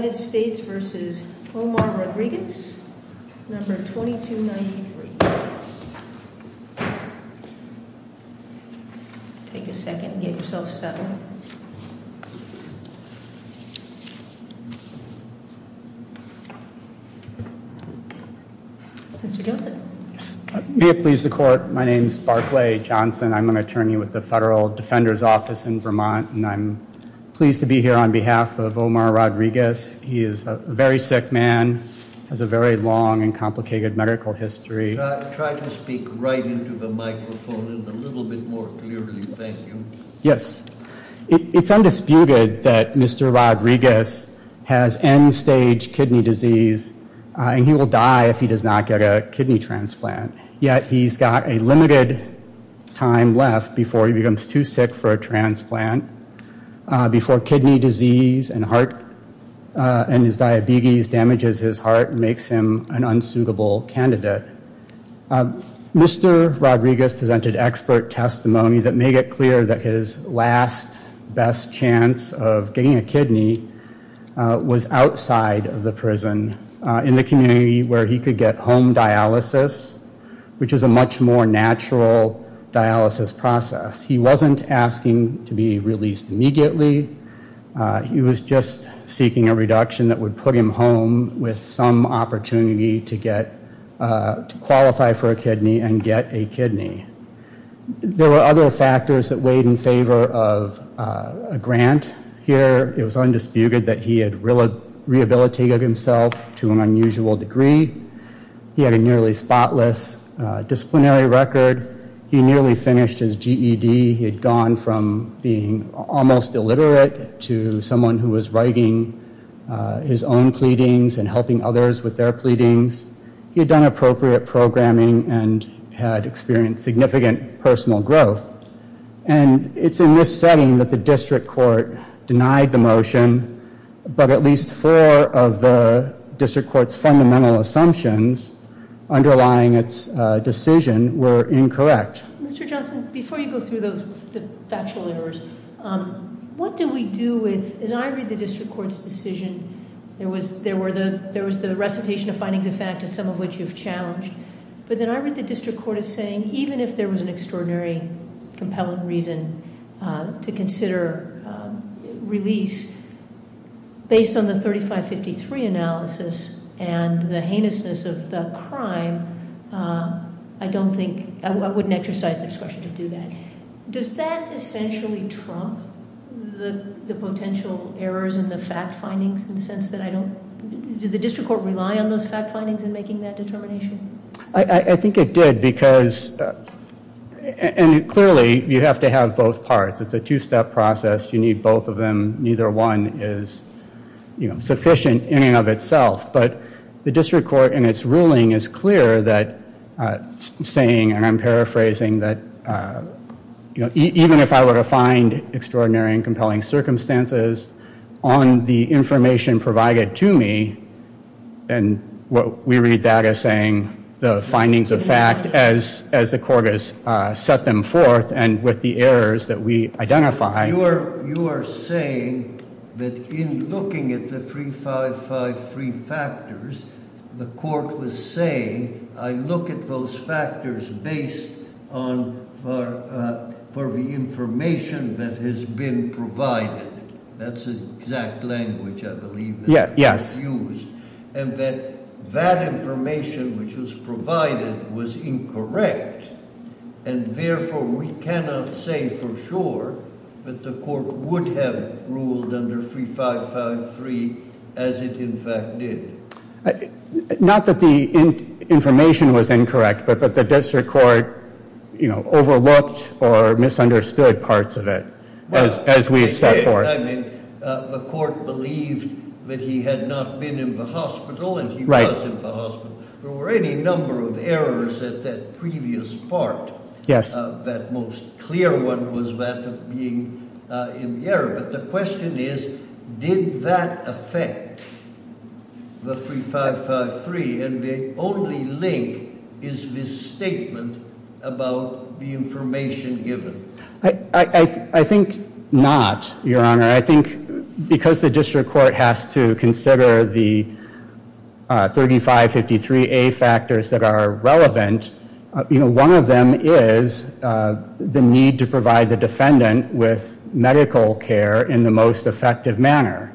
v. Omar Rodriguez, No. 2293. May it please the court. My name is Barclay Johnson. I'm an attorney with the Federal Defender's Office in Vermont. And I'm pleased to be here on behalf of Omar Rodriguez. He is a very sick man. Has a very long and complicated medical history. Try to speak right into the microphone a little bit more clearly. Thank you. Yes. It's undisputed that Mr. Rodriguez has end stage kidney disease. He will die if he does not get a kidney transplant. Yet he's got a limited time left before he becomes too sick for a transplant, before kidney disease and heart and his diabetes damages his heart and makes him an unsuitable candidate. Mr. Rodriguez presented expert testimony that made it clear that his last best chance of getting a kidney was outside of the prison in the community where he could get home dialysis, which is a much more natural dialysis process. He wasn't asking to be released immediately. He was just seeking a reduction that would put him home with some opportunity to qualify for a kidney and get a kidney. There were other factors that weighed in favor of a grant here. It was undisputed that he had rehabilitated himself to an unusual degree. He had a nearly spotless disciplinary record. He nearly finished his GED. He had gone from being almost illiterate to someone who was writing his own pleadings and helping others with their pleadings. He had done appropriate programming and had experienced significant personal growth. And it's in this setting that the district court denied the motion, but at least four of the district court's fundamental assumptions underlying its decision were incorrect. Mr. Johnson, before you go through the factual errors, what do we do with, as I read the district court's decision, there was the recitation of findings of fact, and some of which you've challenged. But then I read the district court as saying even if there was an extraordinary, compelling reason to consider release based on the 3553 analysis and the heinousness of the crime, I don't think, I wouldn't exercise the discretion to do that. Does that essentially trump the potential errors in the fact findings in the sense that I don't, did the district court rely on those fact findings in making that determination? I think it did because, and clearly you have to have both parts. It's a two-step process. You need both of them. Neither one is sufficient in and of itself. But the district court in its ruling is clear that saying, and I'm paraphrasing, that even if I were to find extraordinary and compelling circumstances on the information provided to me, and we read that as saying the findings of fact as the court has set them forth and with the errors that we identify. You are saying that in looking at the 3553 factors, the court was saying I look at those factors based on, for the information that has been provided. That's the exact language I believe that was used. And that that information which was provided was incorrect. And therefore, we cannot say for sure that the court would have ruled under 3553 as it in fact did. Not that the information was incorrect, but the district court overlooked or misunderstood parts of it as we have set forth. The court believed that he had not been in the hospital and he was in the hospital. There were any number of errors at that previous part. Yes. That most clear one was that of being in the air. But the question is, did that affect the 3553? And the only link is this statement about the information given. I think not, Your Honor. I think because the district court has to consider the 3553A factors that are relevant, one of them is the need to provide the defendant with medical care in the most effective manner.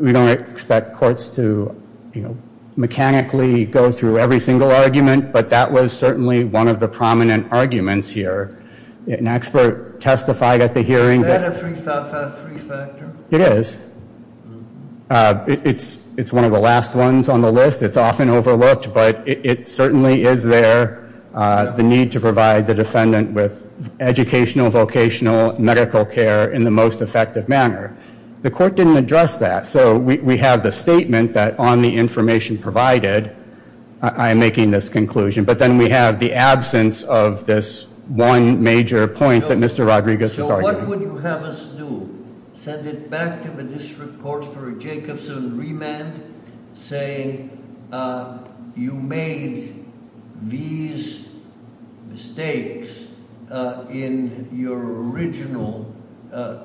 We don't expect courts to mechanically go through every single argument, but that was certainly one of the prominent arguments here. An expert testified at the hearing. Is that a 3553 factor? It is. It's one of the last ones on the list. It's often overlooked, but it certainly is there, the need to provide the defendant with educational, vocational, medical care in the most effective manner. The court didn't address that. So we have the statement that on the information provided, I am making this conclusion. But then we have the absence of this one major point that Mr. Rodriguez was arguing. So what would you have us do? Send it back to the district court for a Jacobson remand saying, you made these mistakes in your original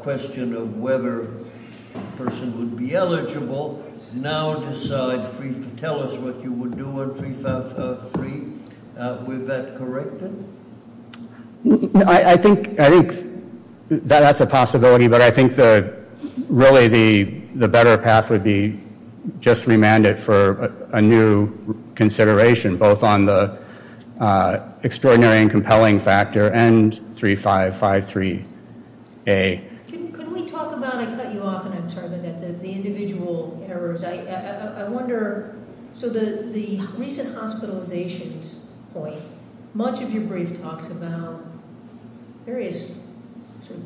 question of whether a person would be eligible. Now decide, tell us what you would do on 3553. Would that correct it? I think that's a possibility, but I think that really the better path would be just remand it for a new consideration, both on the extraordinary and compelling factor and 3553A. Can we talk about, I cut you off and I'm sorry about that, the individual errors. I wonder, so the recent hospitalizations point, much of your brief talks about various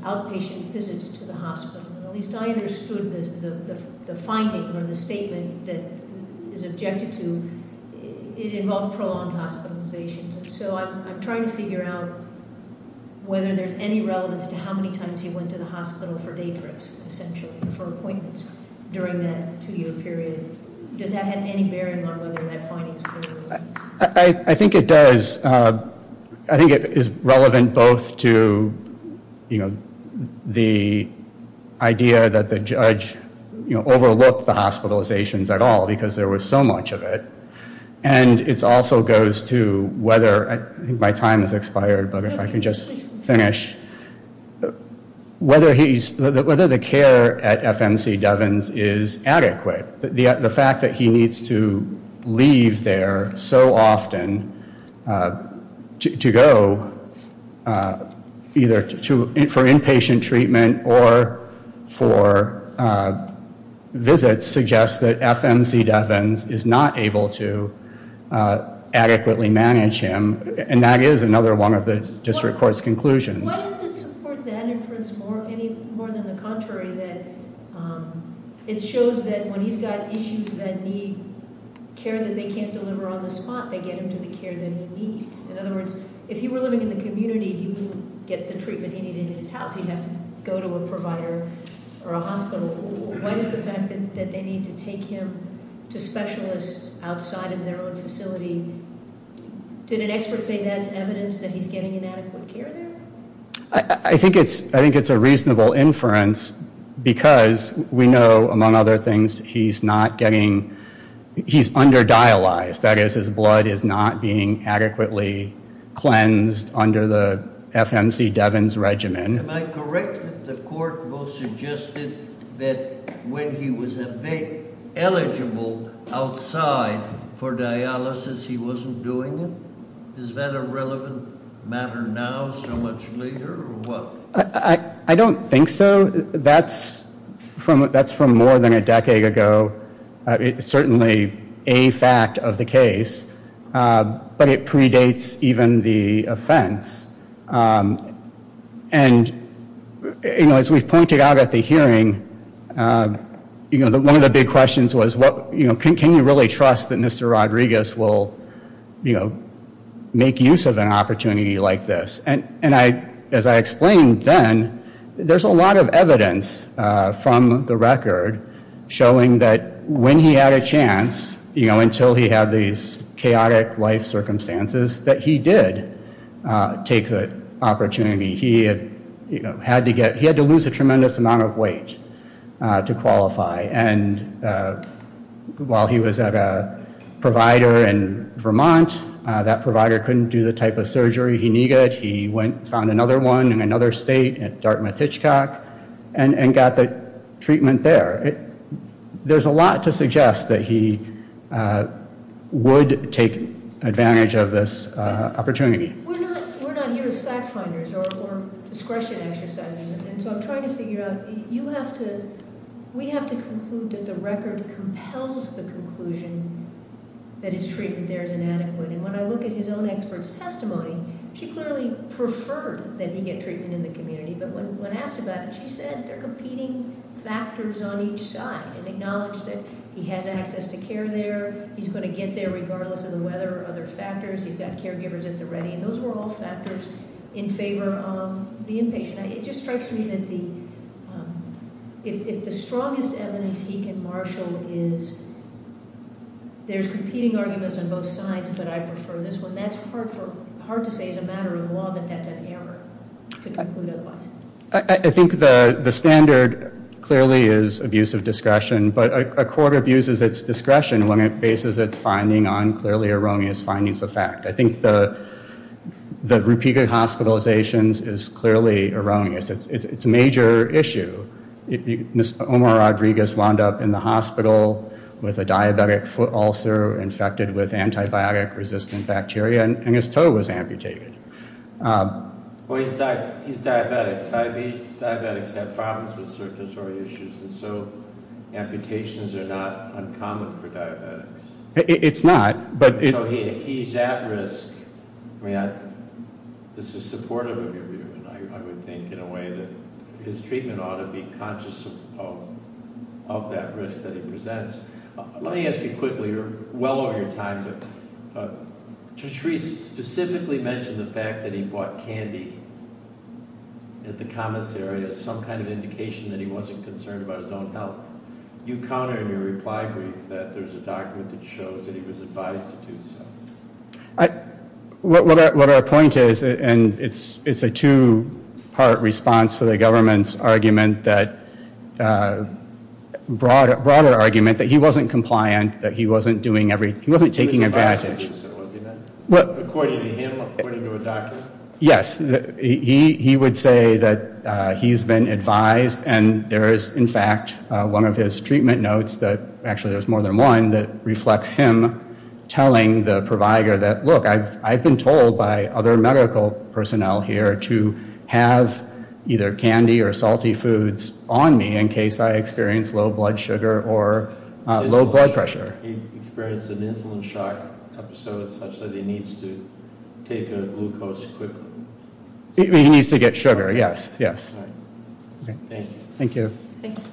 outpatient visits to the hospital. At least I understood the finding or the statement that is objected to. It involved prolonged hospitalizations. So I'm trying to figure out whether there's any relevance to how many times you went to the hospital for day trips, essentially, for appointments during that two year period. Does that have any bearing on whether that finding is correct? I think it does. I think it is relevant both to the idea that the judge overlooked the hospitalizations at all, because there was so much of it. And it also goes to whether, I think my time has expired, but if I can just finish, whether the care at FMC Devens is adequate. The fact that he needs to leave there so often to go either for inpatient treatment or for visits suggests that FMC Devens is not able to adequately manage him. And that is another one of the district court's conclusions. Why does it support that inference more than the contrary? It shows that when he's got issues that need care that they can't deliver on the spot, they get him to the care that he needs. In other words, if he were living in the community, he wouldn't get the treatment he needed in his house. He'd have to go to a provider or a hospital. What is the fact that they need to take him to specialists outside of their own facility? Did an expert say that's evidence that he's getting inadequate care there? I think it's a reasonable inference because we know, among other things, he's not getting, he's under dialyzed. That is, his blood is not being adequately cleansed under the FMC Devens regimen. Am I correct that the court both suggested that when he was eligible outside for dialysis, he wasn't doing it? Is that a relevant matter now so much later or what? I don't think so. That's from more than a decade ago. It's certainly a fact of the case, but it predates even the offense. As we pointed out at the hearing, one of the big questions was, can you really trust that Mr. Rodriguez will make use of an opportunity like this? As I explained then, there's a lot of evidence from the record showing that when he had a chance, until he had these chaotic life circumstances, that he did take the opportunity. He had to lose a tremendous amount of weight to qualify. While he was at a provider in Vermont, that provider couldn't do the type of surgery he needed. He found another one in another state at Dartmouth-Hitchcock and got the treatment there. There's a lot to suggest that he would take advantage of this opportunity. We're not here as fact finders or discretion exercisers. I'm trying to figure out, we have to conclude that the record compels the conclusion that his treatment there is inadequate. When I look at his own expert's testimony, she clearly preferred that he get treatment in the community. When asked about it, she said there are competing factors on each side. It acknowledged that he has access to care there. He's going to get there regardless of the weather or other factors. He's got caregivers at the ready. Those were all factors in favor of the inpatient. It just strikes me that if the strongest evidence he can marshal is, there's competing arguments on both sides, but I prefer this one. That's hard to say as a matter of law that that's an error to conclude otherwise. I think the standard clearly is abuse of discretion, but a court abuses its discretion when it bases its finding on clearly erroneous findings of fact. I think the repeated hospitalizations is clearly erroneous. It's a major issue. Mr. Omar Rodriguez wound up in the hospital with a diabetic foot ulcer, infected with antibiotic-resistant bacteria, and his toe was amputated. He's diabetic. Diabetics have problems with certain disorderly issues, and so amputations are not uncommon for diabetics. It's not. So he's at risk. This is supportive of your view, and I would think in a way that his treatment ought to be conscious of that risk that he presents. Let me ask you quickly, you're well over your time, but Judge Reese specifically mentioned the fact that he bought candy at the commissary as some kind of indication that he wasn't concerned about his own health. You counter in your reply brief that there's a document that shows that he was advised to do so. What our point is, and it's a two-part response to the government's argument, broader argument, that he wasn't compliant, that he wasn't doing everything. He wasn't taking advantage. According to him, according to a document? Yes. He would say that he's been advised, and there is, in fact, one of his treatment notes, actually there's more than one, that reflects him telling the provider that, look, I've been told by other medical personnel here to have either candy or salty foods on me in case I experience low blood sugar or low blood pressure. He experienced an insulin shock episode such that he needs to take a glucose quickly. He needs to get sugar, yes, yes. Thank you. Thank you. Thank you.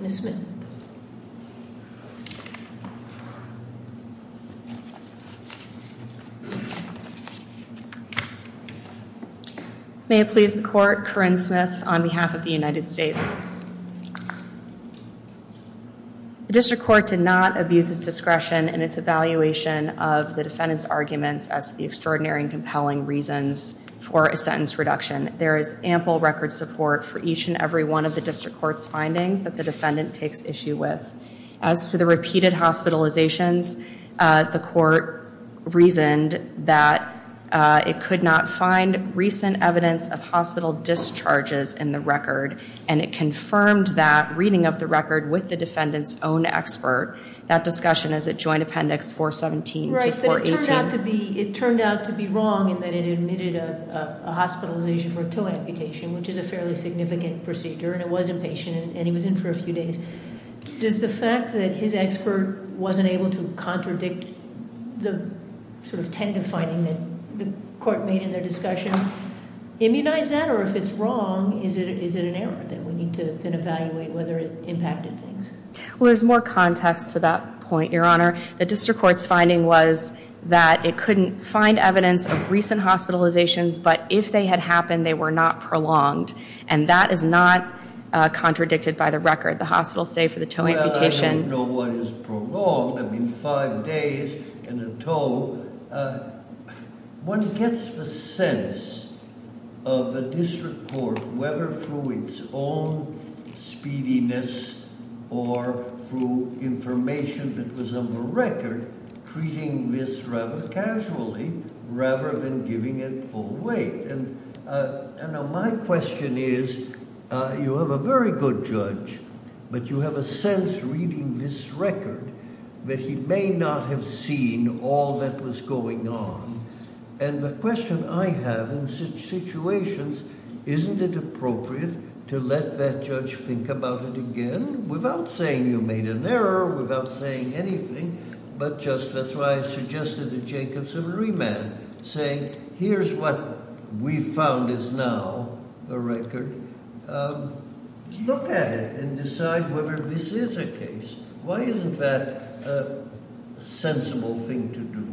Ms. Smith. May it please the Court, Corinne Smith on behalf of the United States. The district court did not abuse its discretion in its evaluation of the defendant's arguments as the extraordinary and compelling reasons for a sentence reduction. There is ample record support for each and every one of the district court's findings that the defendant takes issue with. As to the repeated hospitalizations, the court reasoned that it could not find recent evidence of hospital discharges in the record, and it confirmed that reading of the record with the defendant's own expert. That discussion is at Joint Appendix 417 to 418. It turned out to be wrong in that it admitted a hospitalization for a toe amputation, which is a fairly significant procedure, and it was inpatient, and he was in for a few days. Does the fact that his expert wasn't able to contradict the sort of tentative finding that the court made in their discussion immunize that, or if it's wrong, is it an error that we need to then evaluate whether it impacted things? Well, there's more context to that point, Your Honor. The district court's finding was that it couldn't find evidence of recent hospitalizations, but if they had happened, they were not prolonged, and that is not contradicted by the record. The hospital stayed for the toe amputation. Well, I don't know what is prolonged. I mean, five days and a toe. One gets the sense of the district court, whether through its own speediness or through information that was on the record, treating this rather casually rather than giving it full weight. And now my question is you have a very good judge, but you have a sense reading this record that he may not have seen all that was going on, and the question I have in such situations, isn't it appropriate to let that judge think about it again without saying you made an error, without saying anything, but just as I suggested to Jacobs in remand, saying here's what we found is now a record. Look at it and decide whether this is a case. Why isn't that a sensible thing to do?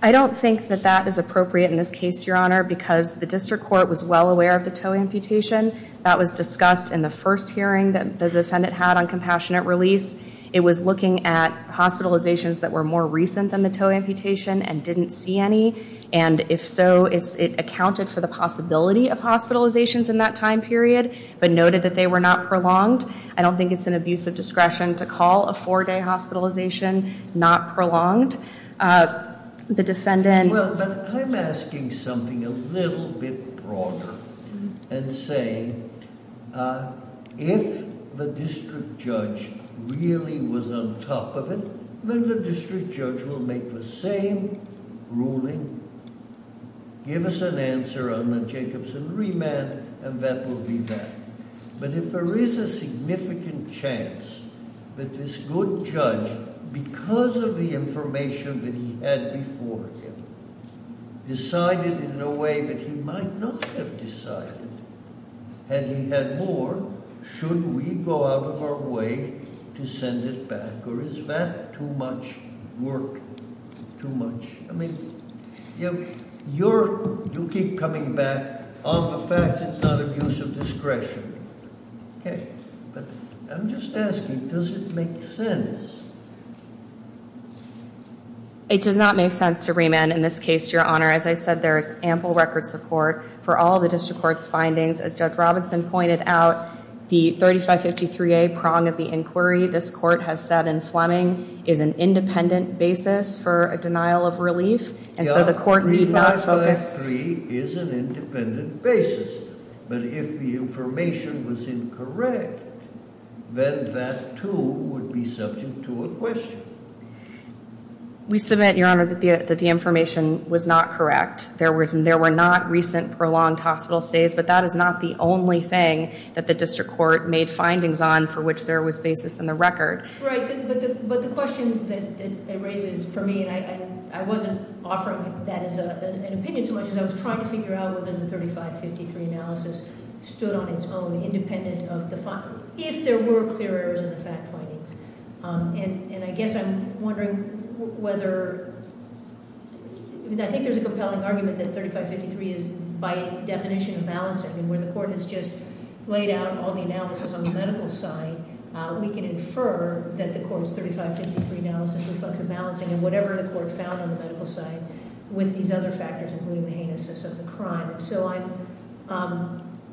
I don't think that that is appropriate in this case, Your Honor, because the district court was well aware of the toe amputation. That was discussed in the first hearing that the defendant had on compassionate release. It was looking at hospitalizations that were more recent than the toe amputation and didn't see any, and if so, it accounted for the possibility of hospitalizations in that time period, but noted that they were not prolonged. I don't think it's an abuse of discretion to call a four-day hospitalization not prolonged. The defendant- Well, but I'm asking something a little bit broader, and saying if the district judge really was on top of it, then the district judge will make the same ruling, give us an answer on the Jacobs in remand, and that will be that. But if there is a significant chance that this good judge, because of the information that he had before him, decided in a way that he might not have decided, had he had more, should we go out of our way to send it back, or is that too much work, too much- You keep coming back on the facts. It's not abuse of discretion. Okay, but I'm just asking, does it make sense? It does not make sense to remand in this case, Your Honor. As I said, there is ample record support for all the district court's findings. As Judge Robinson pointed out, the 3553A prong of the inquiry, this court has said in Fleming, is an independent basis for a denial of relief. And so the court need not focus- Now, 3553 is an independent basis, but if the information was incorrect, then that too would be subject to a question. We submit, Your Honor, that the information was not correct. There were not recent prolonged hospital stays, but that is not the only thing that the district court made findings on for which there was basis in the record. Right, but the question that it raises for me, and I wasn't offering that as an opinion so much as I was trying to figure out whether the 3553 analysis stood on its own independent of the- if there were clear errors in the fact findings. And I guess I'm wondering whether- I think there's a compelling argument that 3553 is by definition of balancing, and where the court has just laid out all the analysis on the medical side, we can infer that the court's 3553 analysis reflects a balancing in whatever the court found on the medical side with these other factors, including the analysis of the crime. And so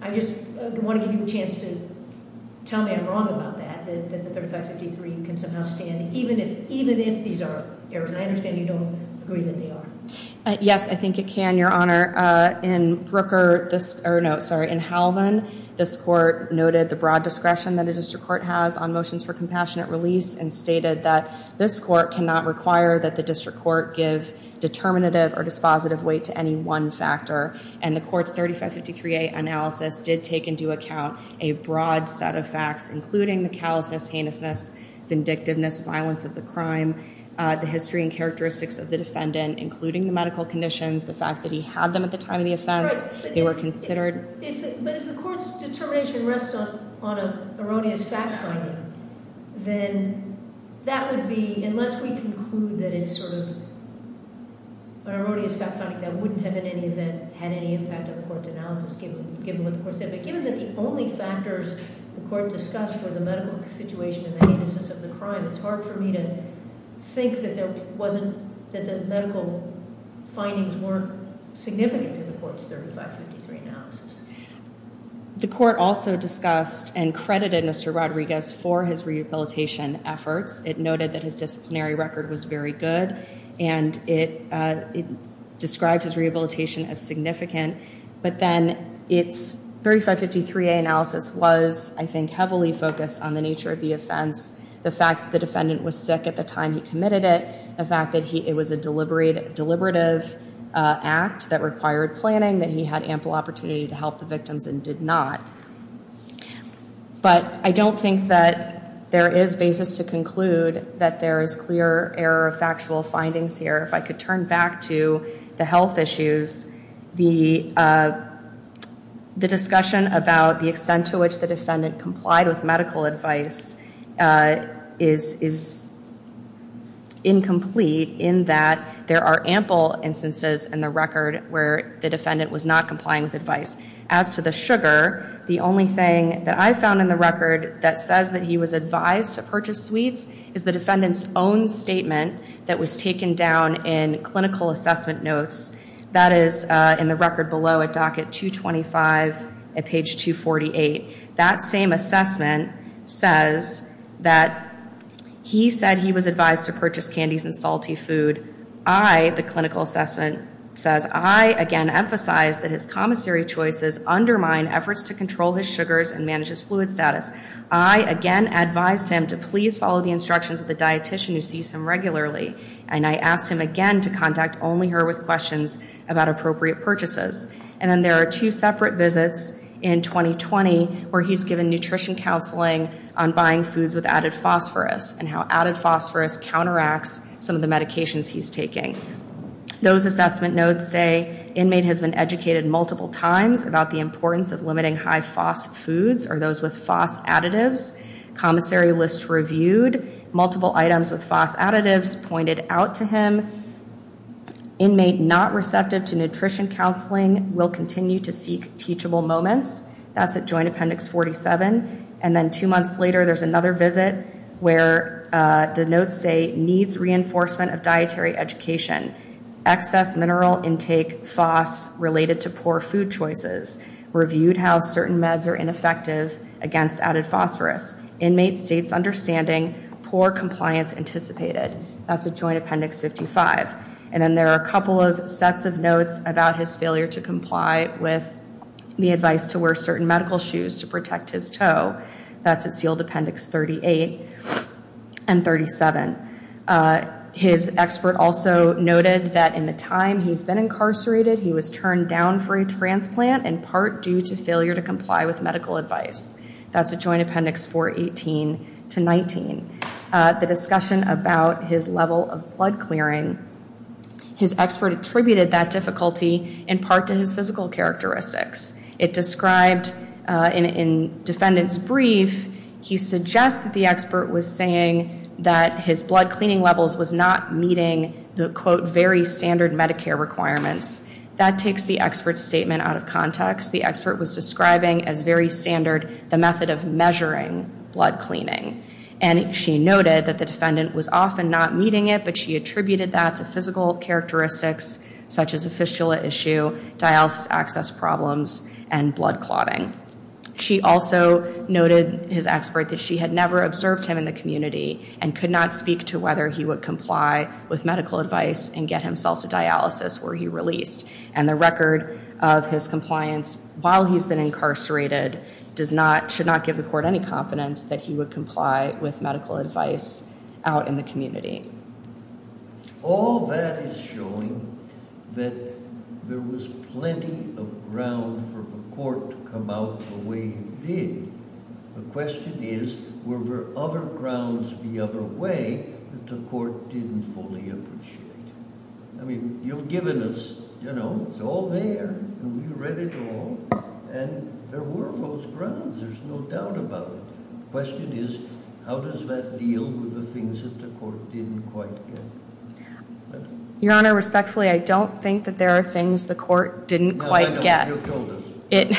I just want to give you a chance to tell me I'm wrong about that, that the 3553 can somehow stand, even if these are errors. And I understand you don't agree that they are. Yes, I think it can, Your Honor. In Halvan, this court noted the broad discretion that a district court has on motions for compassionate release, and stated that this court cannot require that the district court give determinative or dispositive weight to any one factor. And the court's 3553A analysis did take into account a broad set of facts, including the callousness, heinousness, vindictiveness, violence of the crime, the history and characteristics of the defendant, including the medical conditions, the fact that he had them at the time of the offense, they were considered- But if the court's determination rests on an erroneous fact finding, then that would be, unless we conclude that it's sort of an erroneous fact finding that wouldn't have in any event had any impact on the court's analysis, given what the court said. But given that the only factors the court discussed were the medical situation and the heinousness of the crime, it's hard for me to think that the medical findings weren't significant in the court's 3553 analysis. The court also discussed and credited Mr. Rodriguez for his rehabilitation efforts. It noted that his disciplinary record was very good, and it described his rehabilitation as significant. But then its 3553A analysis was, I think, heavily focused on the nature of the offense, the fact that the defendant was sick at the time he committed it, the fact that it was a deliberative act that required planning, that he had ample opportunity to help the victims and did not. But I don't think that there is basis to conclude that there is clear error of factual findings here. If I could turn back to the health issues, the discussion about the extent to which the defendant complied with medical advice is incomplete in that there are ample instances in the record where the defendant was not complying with advice. As to the sugar, the only thing that I found in the record that says that he was advised to purchase sweets is the defendant's own statement that was taken down in clinical assessment notes. That is in the record below at docket 225 at page 248. That same assessment says that he said he was advised to purchase candies and salty food. I, the clinical assessment, says I again emphasize that his commissary choices undermine efforts to control his sugars and manage his fluid status. I again advised him to please follow the instructions of the dietician who sees him regularly. And I asked him again to contact only her with questions about appropriate purchases. And then there are two separate visits in 2020 where he's given nutrition counseling on buying foods with added phosphorus and how added phosphorus counteracts some of the medications he's taking. Those assessment notes say inmate has been educated multiple times about the importance of limiting high-phosph foods or those with phos additives. Commissary lists reviewed multiple items with phos additives pointed out to him. Inmate not receptive to nutrition counseling will continue to seek teachable moments. That's at Joint Appendix 47. And then two months later, there's another visit where the notes say needs reinforcement of dietary education. Excess mineral intake phos related to poor food choices. Reviewed how certain meds are ineffective against added phosphorus. Inmate states understanding poor compliance anticipated. That's at Joint Appendix 55. And then there are a couple of sets of notes about his failure to comply with the advice to wear certain medical shoes to protect his toe. That's at Sealed Appendix 38 and 37. His expert also noted that in the time he's been incarcerated, he was turned down for a transplant in part due to failure to comply with medical advice. That's at Joint Appendix 418 to 19. The discussion about his level of blood clearing, his expert attributed that difficulty in part to his physical characteristics. It described in defendant's brief, he suggests that the expert was saying that his blood cleaning levels was not meeting the, quote, very standard Medicare requirements. That takes the expert's statement out of context. The expert was describing as very standard the method of measuring blood cleaning. And she noted that the defendant was often not meeting it, but she attributed that to physical characteristics such as a fistula issue, dialysis access problems, and blood clotting. She also noted his expert that she had never observed him in the community and could not speak to whether he would comply with medical advice and get himself to dialysis were he released. And the record of his compliance while he's been incarcerated does not, should not give the court any confidence that he would comply with medical advice out in the community. All that is showing that there was plenty of ground for the court to come out the way it did. The question is, were there other grounds the other way that the court didn't fully appreciate? I mean, you've given us, you know, it's all there, and we read it all, and there were those grounds. There's no doubt about it. The question is, how does that deal with the things that the court didn't quite get? Your Honor, respectfully, I don't think that there are things the court didn't quite get. No, I don't. You've told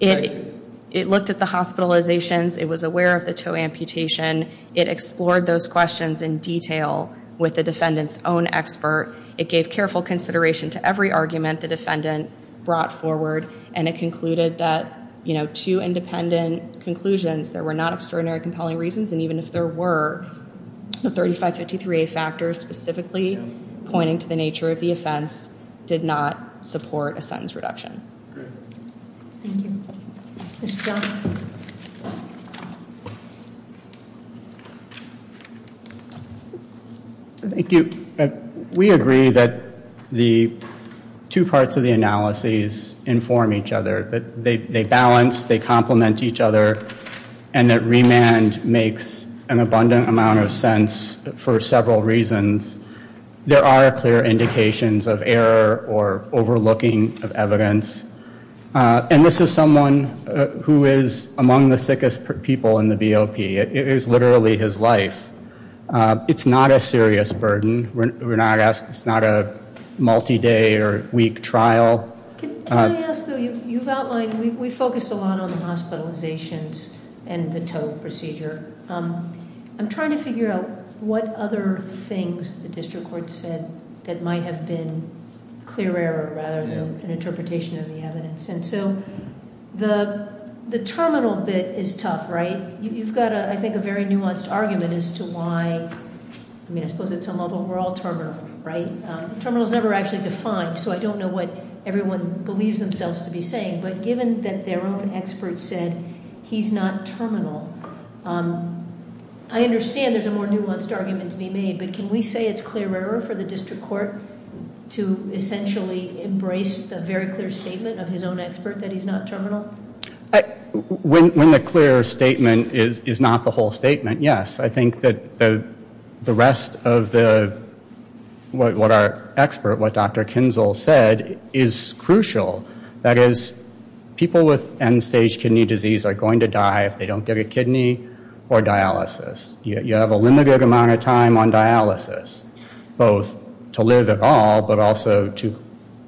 us. It looked at the hospitalizations. It was aware of the toe amputation. It explored those questions in detail with the defendant's own expert. It gave careful consideration to every argument the defendant brought forward, and it concluded that, you know, two independent conclusions, there were not extraordinary compelling reasons, and even if there were the 3553A factors specifically pointing to the nature of the offense, did not support a sentence reduction. Thank you. Mr. Johnson. Thank you. We agree that the two parts of the analysis inform each other, that they balance, they complement each other, and that remand makes an abundant amount of sense for several reasons. There are clear indications of error or overlooking of evidence, and this is someone who is among the sickest people in the BOP. It is literally his life. It's not a serious burden. It's not a multi-day or week trial. Can I ask, though, you've outlined, we focused a lot on the hospitalizations and the toe procedure. I'm trying to figure out what other things the district court said that might have been clear error rather than an interpretation of the evidence. And so the terminal bit is tough, right? You've got, I think, a very nuanced argument as to why, I mean, I suppose at some level we're all terminal, right? Terminal is never actually defined, so I don't know what everyone believes themselves to be saying. But given that their own experts said he's not terminal, I understand there's a more nuanced argument to be made. But can we say it's clear error for the district court to essentially embrace the very clear statement of his own expert that he's not terminal? When the clear statement is not the whole statement, yes. I think that the rest of what our expert, what Dr. Kinzel said, is crucial. That is, people with end-stage kidney disease are going to die if they don't get a kidney or dialysis. You have a limited amount of time on dialysis, both to live at all but also to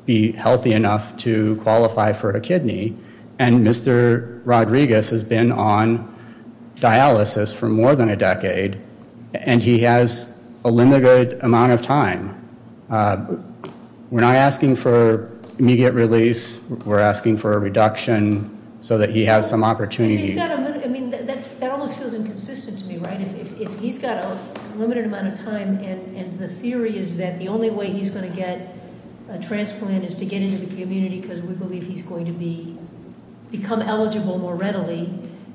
be healthy enough to qualify for a kidney. And Mr. Rodriguez has been on dialysis for more than a decade. And he has a limited amount of time. We're not asking for immediate release. We're asking for a reduction so that he has some opportunity. I mean, that almost feels inconsistent to me, right? If he's got a limited amount of time and the theory is that the only way he's going to get a transplant is to get into the community because we believe he's going to become eligible more readily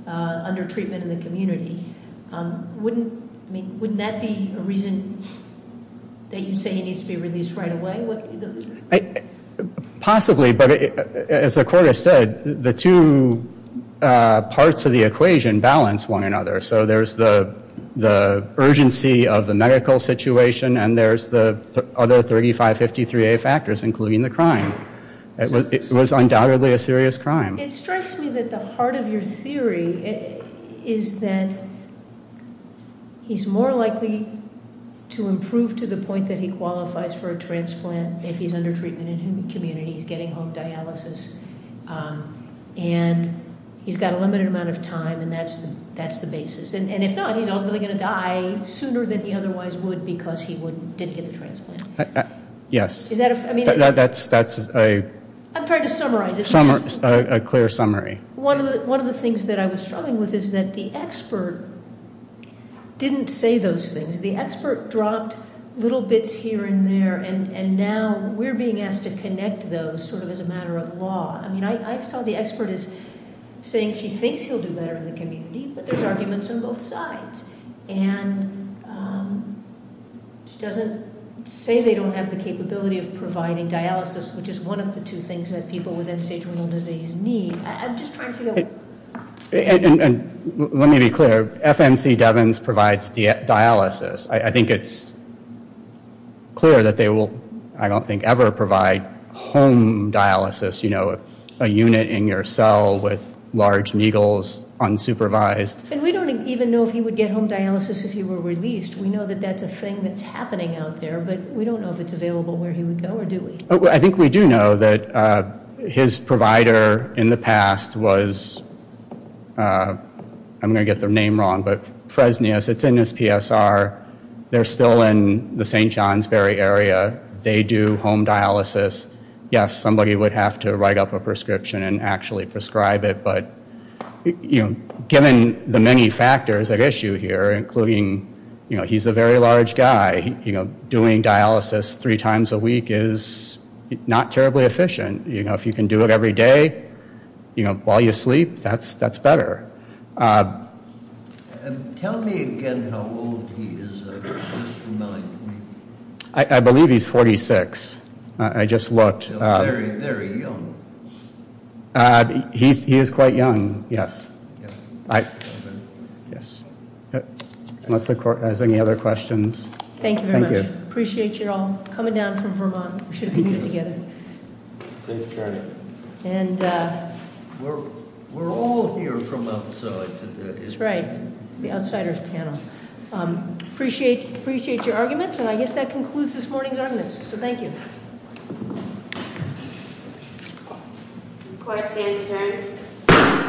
under treatment in the community. Wouldn't that be a reason that you say he needs to be released right away? Possibly, but as the court has said, the two parts of the equation balance one another. So there's the urgency of the medical situation and there's the other 3553A factors, including the crime. It was undoubtedly a serious crime. It strikes me that the heart of your theory is that he's more likely to improve to the point that he qualifies for a transplant if he's under treatment in the community. He's getting home dialysis. And he's got a limited amount of time, and that's the basis. And if not, he's ultimately going to die sooner than he otherwise would because he didn't get the transplant. Yes. Is that a- I'm trying to summarize it. A clear summary. One of the things that I was struggling with is that the expert didn't say those things. The expert dropped little bits here and there, and now we're being asked to connect those sort of as a matter of law. I mean, I saw the expert as saying she thinks he'll do better in the community, but there's arguments on both sides. And she doesn't say they don't have the capability of providing dialysis, which is one of the two things that people with end-stage renal disease need. I'm just trying to figure out- Let me be clear. FMC Devins provides dialysis. I think it's clear that they will, I don't think, ever provide home dialysis, you know, a unit in your cell with large meagles, unsupervised. And we don't even know if he would get home dialysis if he were released. We know that that's a thing that's happening out there, but we don't know if it's available where he would go, or do we? I think we do know that his provider in the past was- I'm going to get their name wrong, but Fresnius. It's in his PSR. They're still in the St. Johnsbury area. They do home dialysis. Yes, somebody would have to write up a prescription and actually prescribe it, but, you know, given the many factors at issue here, including, you know, he's a very large guy, you know, doing dialysis three times a week is not terribly efficient. You know, if you can do it every day, you know, while you sleep, that's better. Tell me again how old he is. I believe he's 46. I just looked. Very, very young. He is quite young, yes. Yes. Unless the court has any other questions. Thank you very much. Appreciate you all coming down from Vermont. We should have been here together. Thank you, Attorney. And- We're all here from outside. That's right, the outsiders panel. Appreciate your arguments, and I guess that concludes this morning's arguments, so thank you. The court stands adjourned.